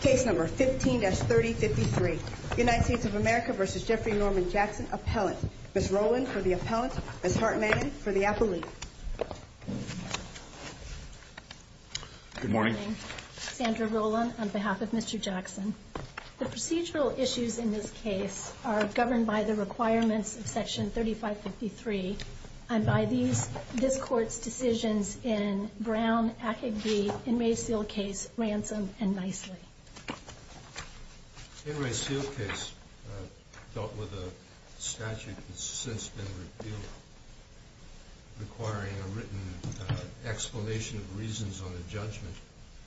Case number 15-3053, United States of America v. Jeffrey Norman Jackson, Appellant. Ms. Rowland for the Appellant. Ms. Hartman for the Appellant. Good morning. Sandra Rowland on behalf of Mr. Jackson. The procedural issues in this case are governed by the requirements of section 3553 and by this Court's decisions in Brown, Akegbe, In re Sealed Case, Ransom, and Nicely. In re Sealed Case dealt with a statute that's since been repealed requiring a written explanation of reasons on a judgment.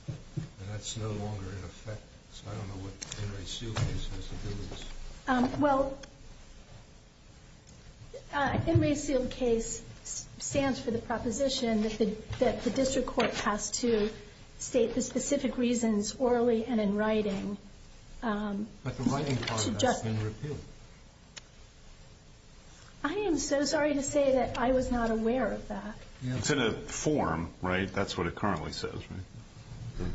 And that's no longer in effect. So I don't know what In re Sealed Case has to do with this. Well, In re Sealed Case stands for the proposition that the district court has to state the specific reasons orally and in writing. But the writing part has been repealed. I am so sorry to say that I was not aware of that. It's in a form, right? That's what it currently says, right?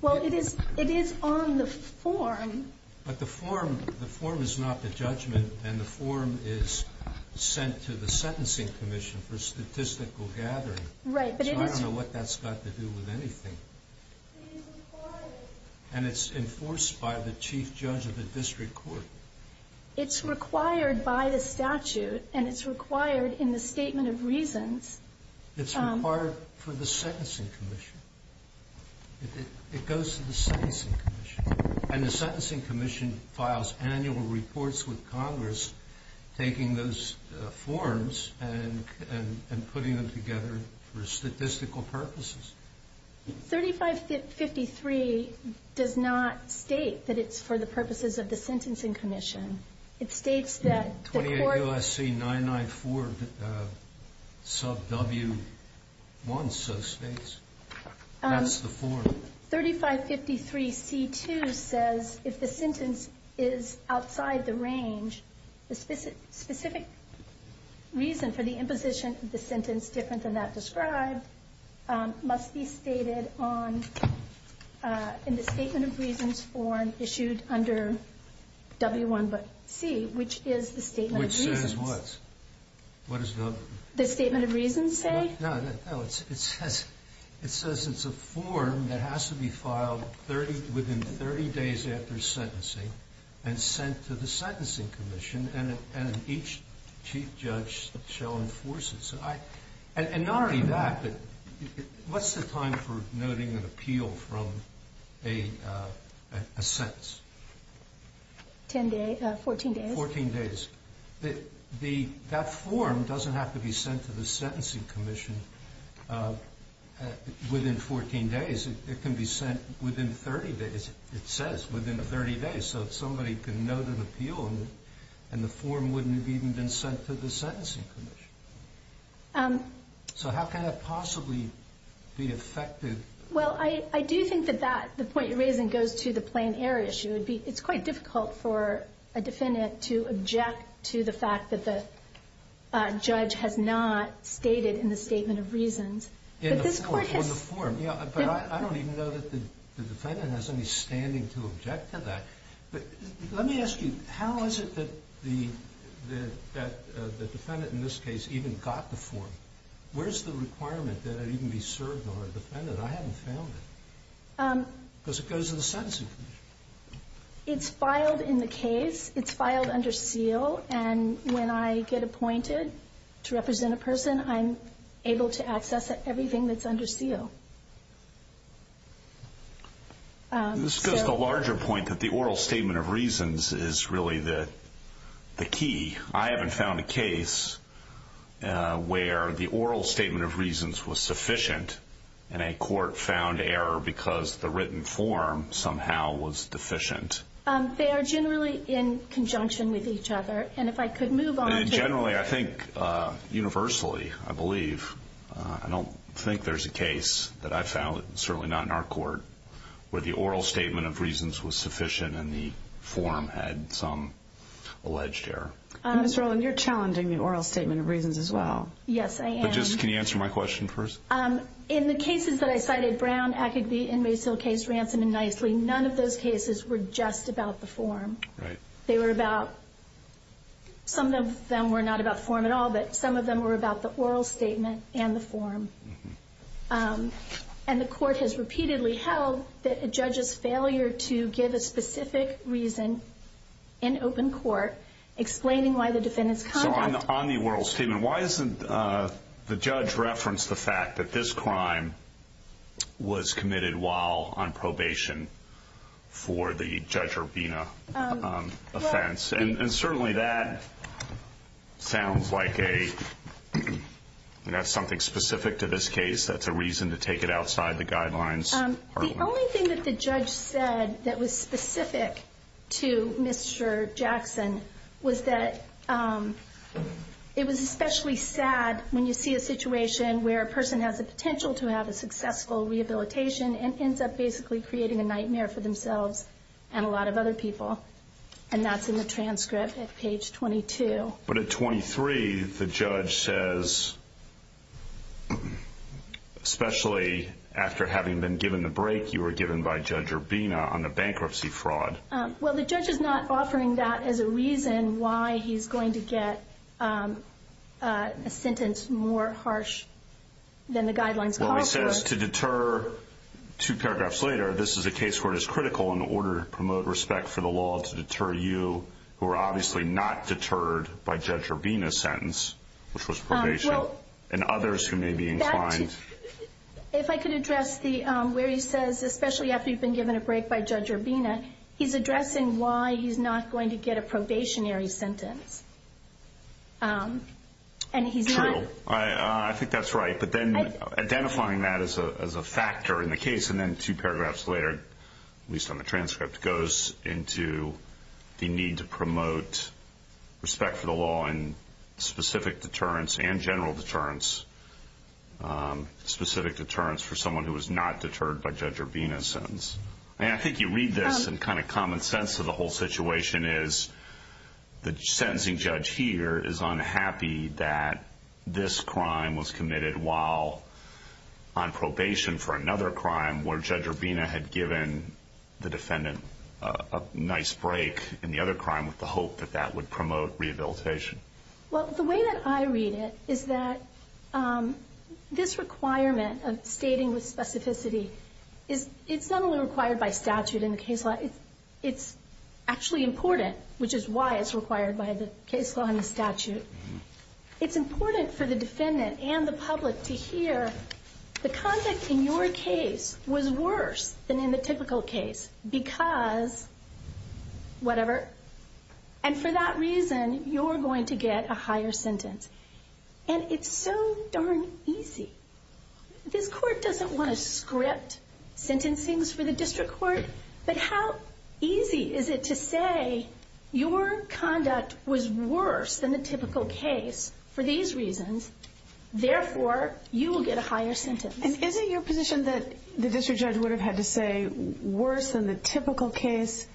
Well, it is on the form. But the form, the form is not the judgment, and the form is sent to the Sentencing Commission for statistical gathering. Right. But it is So I don't know what that's got to do with anything. It is required. And it's enforced by the chief judge of the district court. It's required by the statute, and it's required in the statement of reasons. It's required for the Sentencing Commission. It goes to the Sentencing Commission. And the Sentencing Commission files annual reports with Congress, taking those forms and putting them together for statistical purposes. 3553 does not state that it's for the purposes of the Sentencing Commission. It states that the court 28 U.S.C. 994 sub W1 so states. That's the form. 3553 C2 says if the sentence is outside the range, the specific reason for the imposition of the sentence different than that described, must be stated on in the statement of reasons form issued under W1 C, which is the statement of reasons. Which says what? What does the The statement of reasons say? It says it's a form that has to be filed within 30 days after sentencing and sent to the Sentencing Commission. And each chief judge shall enforce it. And not only that, but what's the time for noting an appeal from a sentence? 14 days. 14 days. That form doesn't have to be sent to the Sentencing Commission within 14 days. It can be sent within 30 days. It says within 30 days. So if somebody can note an appeal and the form wouldn't have even been sent to the Sentencing Commission. So how can that possibly be effective? Well, I do think that that, the point you're raising, goes to the plain error issue. It's quite difficult for a defendant to object to the fact that the judge has not stated in the statement of reasons. In the form. But I don't even know that the defendant has any standing to object to that. But let me ask you, how is it that the defendant in this case even got the form? Where's the requirement that it even be served on a defendant? I haven't found it. Because it goes to the Sentencing Commission. It's filed in the case. It's filed under seal. And when I get appointed to represent a person, I'm able to access everything that's under seal. This goes to a larger point that the oral statement of reasons is really the key. I haven't found a case where the oral statement of reasons was sufficient and a court found error because the written form somehow was deficient. They are generally in conjunction with each other. And if I could move on to… Generally, I think, universally, I believe. I don't think there's a case that I found, certainly not in our court, where the oral statement of reasons was sufficient and the form had some alleged error. Ms. Rowland, you're challenging the oral statement of reasons as well. Yes, I am. But just, can you answer my question first? In the cases that I cited, Brown, Ackerdy, Inmaisil, Case Ransom, and Nicely, none of those cases were just about the form. They were about… Some of them were not about form at all, but some of them were about the oral statement and the form. And the court has repeatedly held that a judge's failure to give a specific reason in open court, explaining why the defendant's conduct… So, on the oral statement, why doesn't the judge reference the fact that this crime was committed while on probation for the Judge Urbina offense? Yes, and certainly that sounds like a… That's something specific to this case. That's a reason to take it outside the guidelines. The only thing that the judge said that was specific to Mr. Jackson was that it was especially sad when you see a situation where a person has the potential to have a successful rehabilitation and ends up basically creating a nightmare for themselves and a lot of other people. And that's in the transcript at page 22. But at 23, the judge says, especially after having been given the break you were given by Judge Urbina on the bankruptcy fraud. Well, the judge is not offering that as a reason why he's going to get a sentence more harsh than the guidelines call for. Well, he says to deter, two paragraphs later, this is a case where it is critical in order to promote respect for the law to deter you, who are obviously not deterred by Judge Urbina's sentence, which was probation, and others who may be inclined. If I could address where he says, especially after you've been given a break by Judge Urbina, he's addressing why he's not going to get a probationary sentence. True. I think that's right. But then identifying that as a factor in the case, and then two paragraphs later, at least on the transcript, goes into the need to promote respect for the law and specific deterrence and general deterrence, specific deterrence for someone who was not deterred by Judge Urbina's sentence. I think you read this, and kind of common sense of the whole situation is the sentencing judge here is unhappy that this crime was committed while on probation for another crime where Judge Urbina had given the defendant a nice break in the other crime with the hope that that would promote rehabilitation. Well, the way that I read it is that this requirement of stating with specificity, it's not only required by statute in the case law, it's actually important, which is why it's required by the case law and the statute. It's important for the defendant and the public to hear the conduct in your case was worse than in the typical case because whatever, and for that reason, you're going to get a higher sentence. And it's so darn easy. This court doesn't want to script sentencings for the district court, but how easy is it to say your conduct was worse than the typical case for these reasons, therefore, you will get a higher sentence? And is it your position that the district judge would have had to say worse than the typical case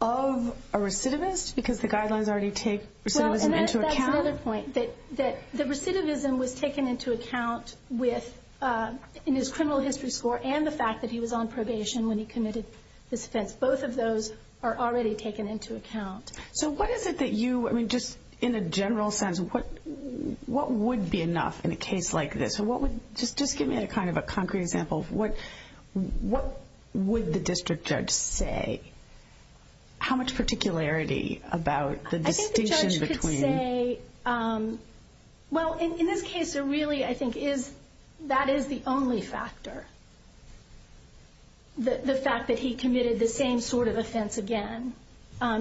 of a recidivist because the guidelines already take recidivism into account? That's another point, that the recidivism was taken into account in his criminal history score and the fact that he was on probation when he committed this offense. Both of those are already taken into account. So what is it that you, just in a general sense, what would be enough in a case like this? Just give me a kind of a concrete example. What would the district judge say? How much particularity about the distinction between? I think the judge could say, well, in this case, really, I think that is the only factor, the fact that he committed the same sort of offense again.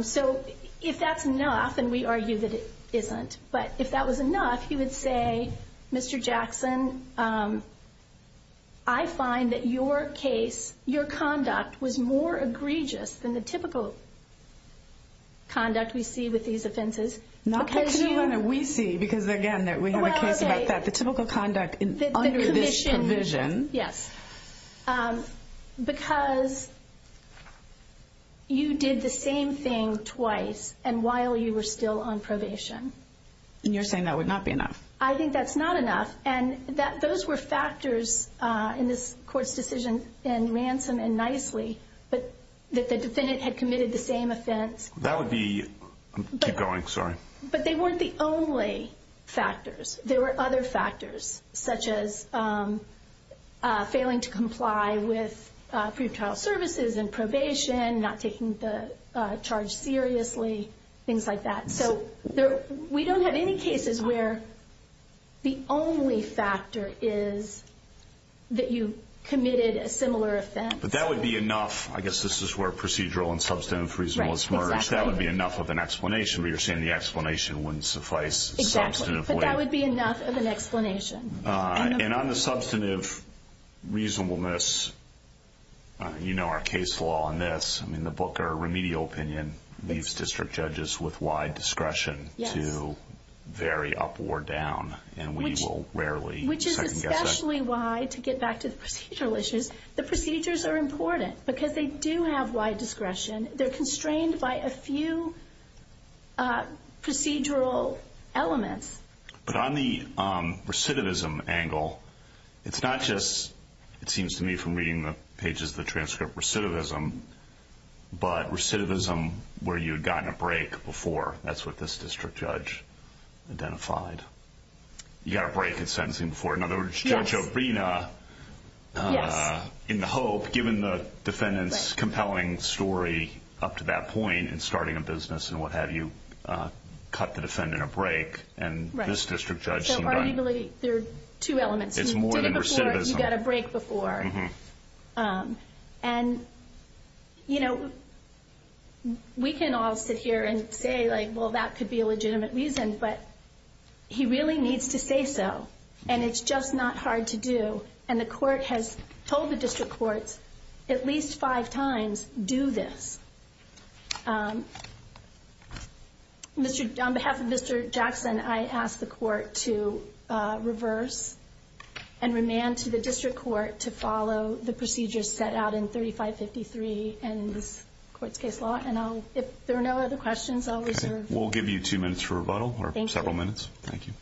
So if that's enough, and we argue that it isn't, but if that was enough, he would say, Mr. Jackson, I find that your case, your conduct, was more egregious than the typical conduct we see with these offenses. Not the kind of conduct we see because, again, we have a case about that. The typical conduct under this provision. Yes. Because you did the same thing twice and while you were still on probation. And you're saying that would not be enough. I think that's not enough. And those were factors in this court's decision in Ransom and Nicely, that the defendant had committed the same offense. That would be, keep going, sorry. But they weren't the only factors. There were other factors, such as failing to comply with pre-trial services and probation, not taking the charge seriously, things like that. So we don't have any cases where the only factor is that you committed a similar offense. But that would be enough. I guess this is where procedural and substantive reasonableness merge. That would be enough of an explanation. But you're saying the explanation wouldn't suffice. Exactly. But that would be enough of an explanation. And on the substantive reasonableness, you know our case law on this. I mean the Booker remedial opinion leaves district judges with wide discretion to vary up or down. Which is especially why, to get back to the procedural issues, the procedures are important. Because they do have wide discretion. They're constrained by a few procedural elements. But on the recidivism angle, it's not just, it seems to me from reading the pages of the transcript, recidivism, but recidivism where you had gotten a break before. That's what this district judge identified. You got a break in sentencing before. In other words, Judge Obrina, in the hope, given the defendant's compelling story up to that point, in starting a business and what have you, cut the defendant a break. And this district judge seemed right. There are two elements. It's more than recidivism. You did it before. You got a break before. And, you know, we can all sit here and say, well, that could be a legitimate reason. But he really needs to say so. And it's just not hard to do. And the court has told the district courts at least five times, do this. On behalf of Mr. Jackson, I ask the court to reverse and remand to the district court to follow the procedures set out in 3553 and this court's case law. And if there are no other questions, I'll reserve. We'll give you two minutes for rebuttal or several minutes. Thank you. Thank you.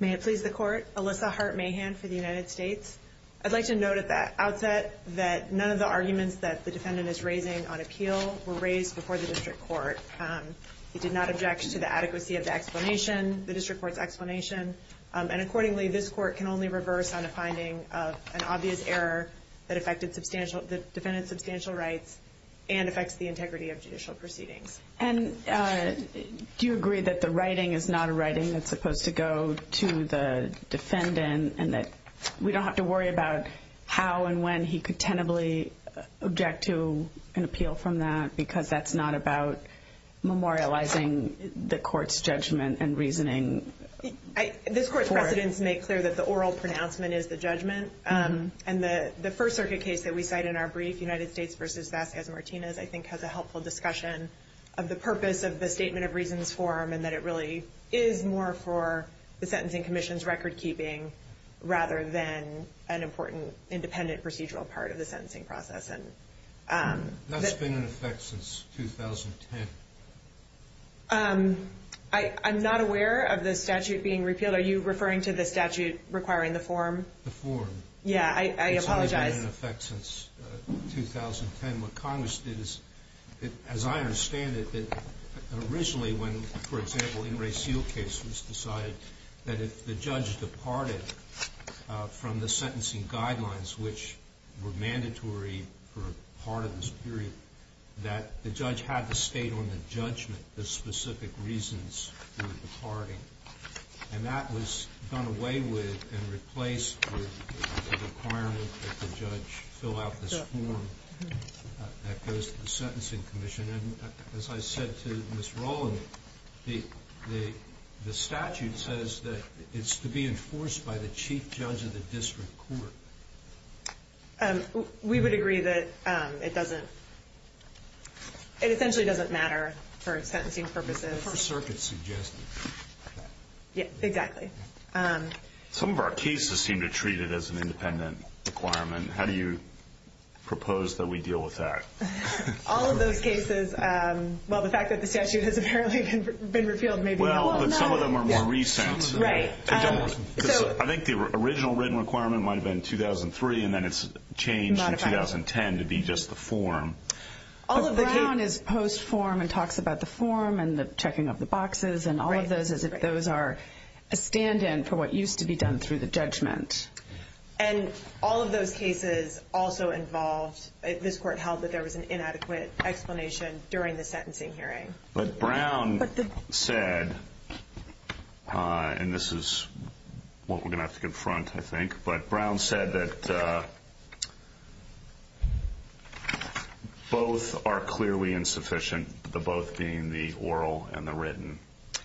May it please the court. Alyssa Hart Mahan for the United States. I'd like to note at the outset that none of the arguments that the defendant is raising on appeal were raised before the district court. He did not object to the adequacy of the explanation, the district court's explanation. And accordingly, this court can only reverse on a finding of an obvious error that affected the defendant's substantial rights and affects the integrity of judicial proceedings. And do you agree that the writing is not a writing that's supposed to go to the defendant and that we don't have to worry about how and when he could tentatively object to an appeal from that because that's not about memorializing the court's judgment and reasoning? This court's precedents make clear that the oral pronouncement is the judgment. And the First Circuit case that we cite in our brief, United States v. Vasquez-Martinez, I think has a helpful discussion of the purpose of the Statement of Reasons form and that it really is more for the Sentencing Commission's recordkeeping rather than an important independent procedural part of the sentencing process. That's been in effect since 2010. I'm not aware of the statute being repealed. Are you referring to the statute requiring the form? The form. Yeah, I apologize. It's only been in effect since 2010. And what Congress did is, as I understand it, that originally when, for example, Ingray-Seal case was decided, that if the judge departed from the sentencing guidelines, which were mandatory for part of this period, that the judge had to state on the judgment the specific reasons for departing. And that was done away with and replaced with the requirement that the judge fill out this form that goes to the Sentencing Commission. And as I said to Ms. Rowland, the statute says that it's to be enforced by the chief judge of the district court. We would agree that it doesn't – it essentially doesn't matter for sentencing purposes. The First Circuit suggested that. Yeah, exactly. Some of our cases seem to treat it as an independent requirement. How do you propose that we deal with that? All of those cases – well, the fact that the statute has apparently been repealed maybe – Well, but some of them are more recent. Right. I think the original written requirement might have been 2003, and then it's changed in 2010 to be just the form. But Brown is post-form and talks about the form and the checking of the boxes and all of those as if those are a stand-in for what used to be done through the judgment. And all of those cases also involved – this court held that there was an inadequate explanation during the sentencing hearing. But Brown said – and this is what we're going to have to confront, I think – but Brown said that both are clearly insufficient, the both being the oral and the written,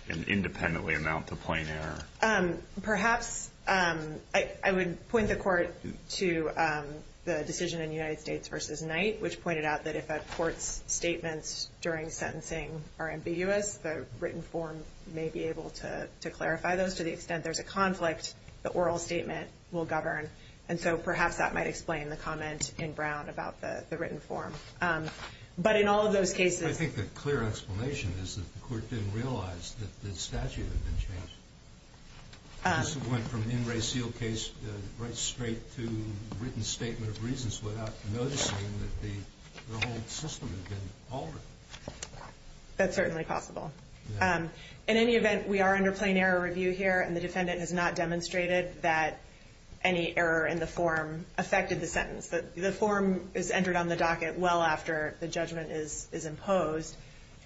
and independently amount to plain error. Perhaps I would point the court to the decision in United States v. Knight, which pointed out that if a court's statements during sentencing are ambiguous, the written form may be able to clarify those. Just to the extent there's a conflict, the oral statement will govern. And so perhaps that might explain the comment in Brown about the written form. But in all of those cases – I think the clear explanation is that the court didn't realize that the statute had been changed. This went from an in reseal case right straight to written statement of reasons without noticing that the whole system had been altered. That's certainly possible. In any event, we are under plain error review here, and the defendant has not demonstrated that any error in the form affected the sentence. The form is entered on the docket well after the judgment is imposed.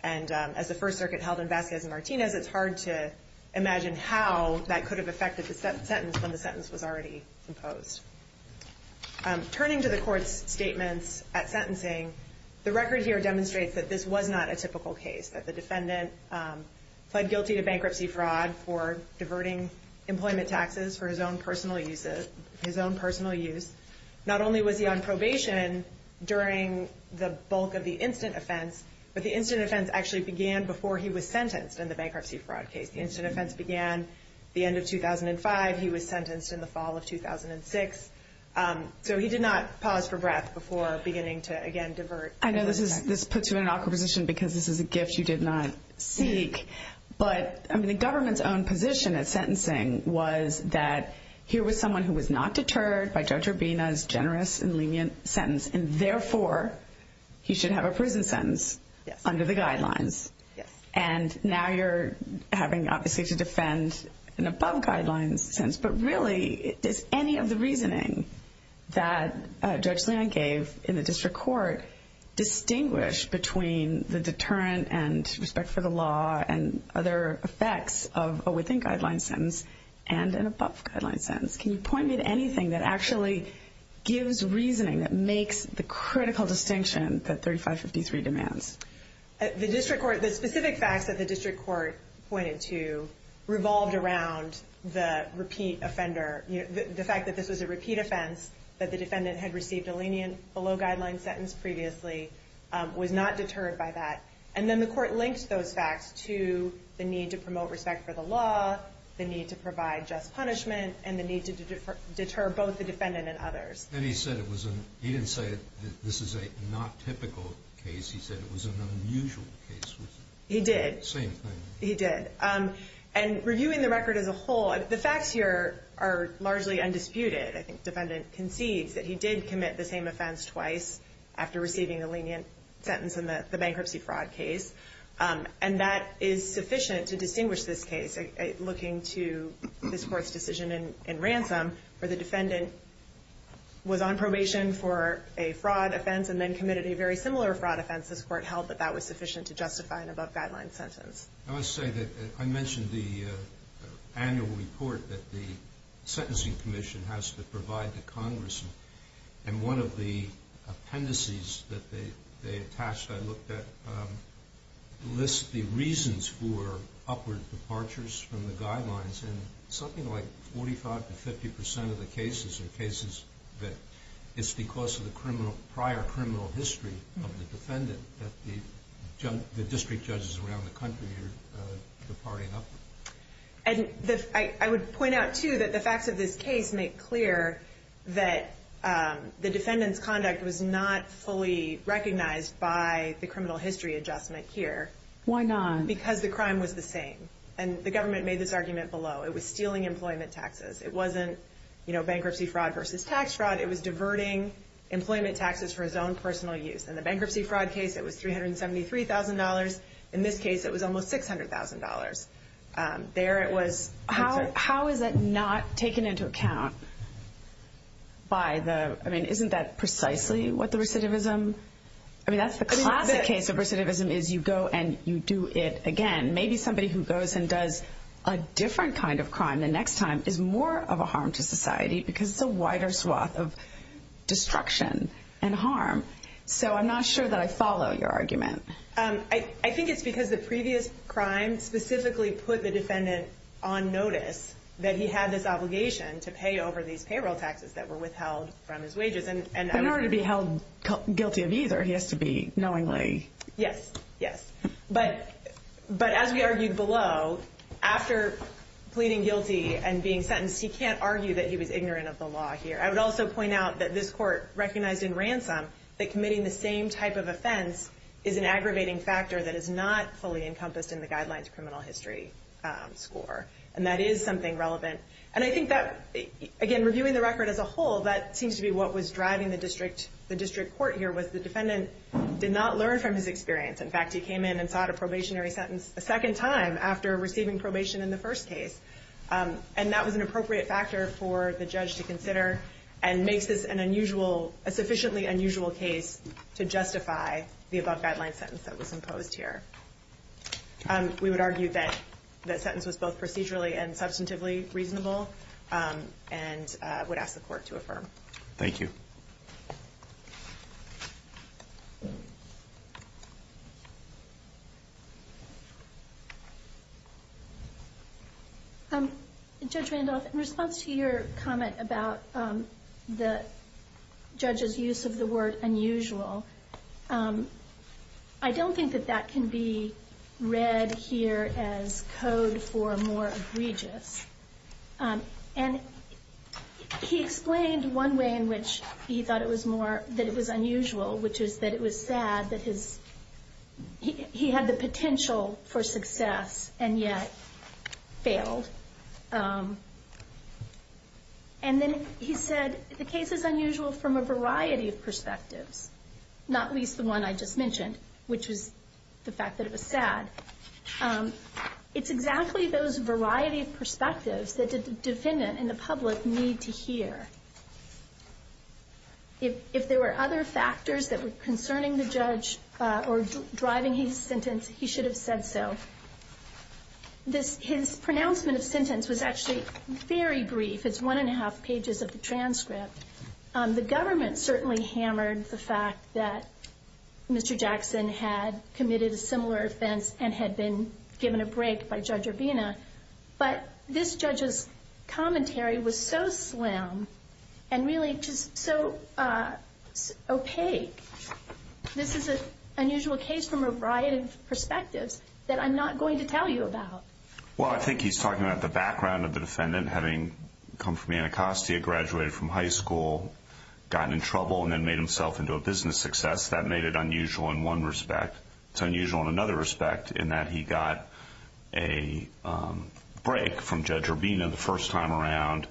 And as the First Circuit held in Vasquez and Martinez, it's hard to imagine how that could have affected the sentence when the sentence was already imposed. Turning to the court's statements at sentencing, the record here demonstrates that this was not a typical case, that the defendant pled guilty to bankruptcy fraud for diverting employment taxes for his own personal use. Not only was he on probation during the bulk of the instant offense, but the instant offense actually began before he was sentenced in the bankruptcy fraud case. The instant offense began the end of 2005. He was sentenced in the fall of 2006. So he did not pause for breath before beginning to, again, divert. I know this puts you in an awkward position because this is a gift you did not seek, but the government's own position at sentencing was that here was someone who was not deterred by Judge Urbina's generous and lenient sentence, and therefore he should have a prison sentence under the guidelines. And now you're having, obviously, to defend an above-guidelines sentence. But really, does any of the reasoning that Judge Leone gave in the district court distinguish between the deterrent and respect for the law and other effects of a within-guidelines sentence and an above-guidelines sentence? Can you point me to anything that actually gives reasoning that makes the critical distinction that 3553 demands? The specific facts that the district court pointed to revolved around the repeat offender. The fact that this was a repeat offense, that the defendant had received a lenient below-guidelines sentence previously, was not deterred by that. And then the court linked those facts to the need to promote respect for the law, the need to provide just punishment, and the need to deter both the defendant and others. And he said he didn't say that this is a not-typical case. He said it was an unusual case. He did. Same thing. He did. And reviewing the record as a whole, the facts here are largely undisputed. I think the defendant concedes that he did commit the same offense twice after receiving a lenient sentence in the bankruptcy fraud case, and that is sufficient to distinguish this case. Looking to this Court's decision in ransom, where the defendant was on probation for a fraud offense and then committed a very similar fraud offense, this Court held that that was sufficient to justify an above-guidelines sentence. I mentioned the annual report that the Sentencing Commission has to provide to Congress, and one of the appendices that they attached, I looked at, lists the reasons for upward departures from the guidelines, and something like 45% to 50% of the cases are cases that it's because of the prior criminal history of the defendant that the district judges around the country are departing upward. I would point out, too, that the facts of this case make clear that the defendant's conduct was not fully recognized by the criminal history adjustment here. Why not? Because the crime was the same, and the government made this argument below. It was stealing employment taxes. It wasn't bankruptcy fraud versus tax fraud. It was diverting employment taxes for his own personal use. In the bankruptcy fraud case, it was $373,000. In this case, it was almost $600,000. There, it was... How is that not taken into account by the... I mean, isn't that precisely what the recidivism... I mean, that's the classic case of recidivism is you go and you do it again. Maybe somebody who goes and does a different kind of crime the next time is more of a harm to society because it's a wider swath of destruction and harm. So I'm not sure that I follow your argument. I think it's because the previous crime specifically put the defendant on notice that he had this obligation to pay over these payroll taxes that were withheld from his wages. In order to be held guilty of either, he has to be knowingly... Yes, yes. But as we argued below, after pleading guilty and being sentenced, he can't argue that he was ignorant of the law here. I would also point out that this court recognized in ransom that committing the same type of offense is an aggravating factor that is not fully encompassed in the guidelines criminal history score. And that is something relevant. And I think that, again, reviewing the record as a whole, that seems to be what was driving the district court here was the defendant did not learn from his experience. In fact, he came in and sought a probationary sentence a second time after receiving probation in the first case. And that was an appropriate factor for the judge to consider and makes this a sufficiently unusual case to justify the above-guideline sentence that was imposed here. We would argue that that sentence was both procedurally and substantively reasonable and would ask the court to affirm. Thank you. Judge Randolph, in response to your comment about the judge's use of the word unusual, I don't think that that can be read here as code for more egregious. And he explained one way in which he thought it was unusual, which is that it was sad that he had the potential for success and yet failed. And then he said the case is unusual from a variety of perspectives, not least the one I just mentioned, which was the fact that it was sad. It's exactly those variety of perspectives that the defendant and the public need to hear. If there were other factors that were concerning the judge or driving his sentence, he should have said so. His pronouncement of sentence was actually very brief. It's one and a half pages of the transcript. The government certainly hammered the fact that Mr. Jackson had committed a similar offense and had been given a break by Judge Urbina. But this judge's commentary was so slim and really just so opaque. This is an unusual case from a variety of perspectives that I'm not going to tell you about. Well, I think he's talking about the background of the defendant, having come from Anacostia, graduated from high school, gotten in trouble and then made himself into a business success. That made it unusual in one respect. It's unusual in another respect in that he got a break from Judge Urbina the first time around,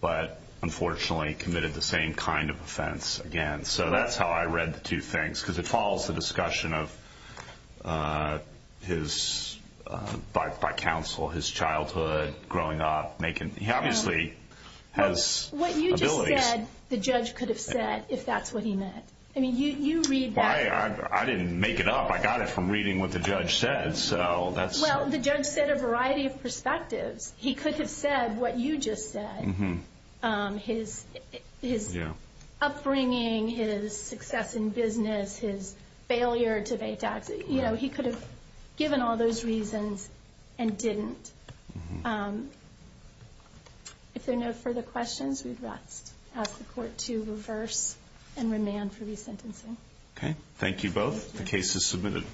but unfortunately committed the same kind of offense again. So that's how I read the two things because it follows the discussion by counsel, his childhood, growing up. He obviously has abilities. What you just said, the judge could have said if that's what he meant. I mean, you read that. I didn't make it up. I got it from reading what the judge said. Well, the judge said a variety of perspectives. He could have said what you just said. His upbringing, his success in business, his failure to pay taxes. He could have given all those reasons and didn't. If there are no further questions, we'd ask the court to reverse and remand for resentencing. Okay. Thank you both. The case is submitted.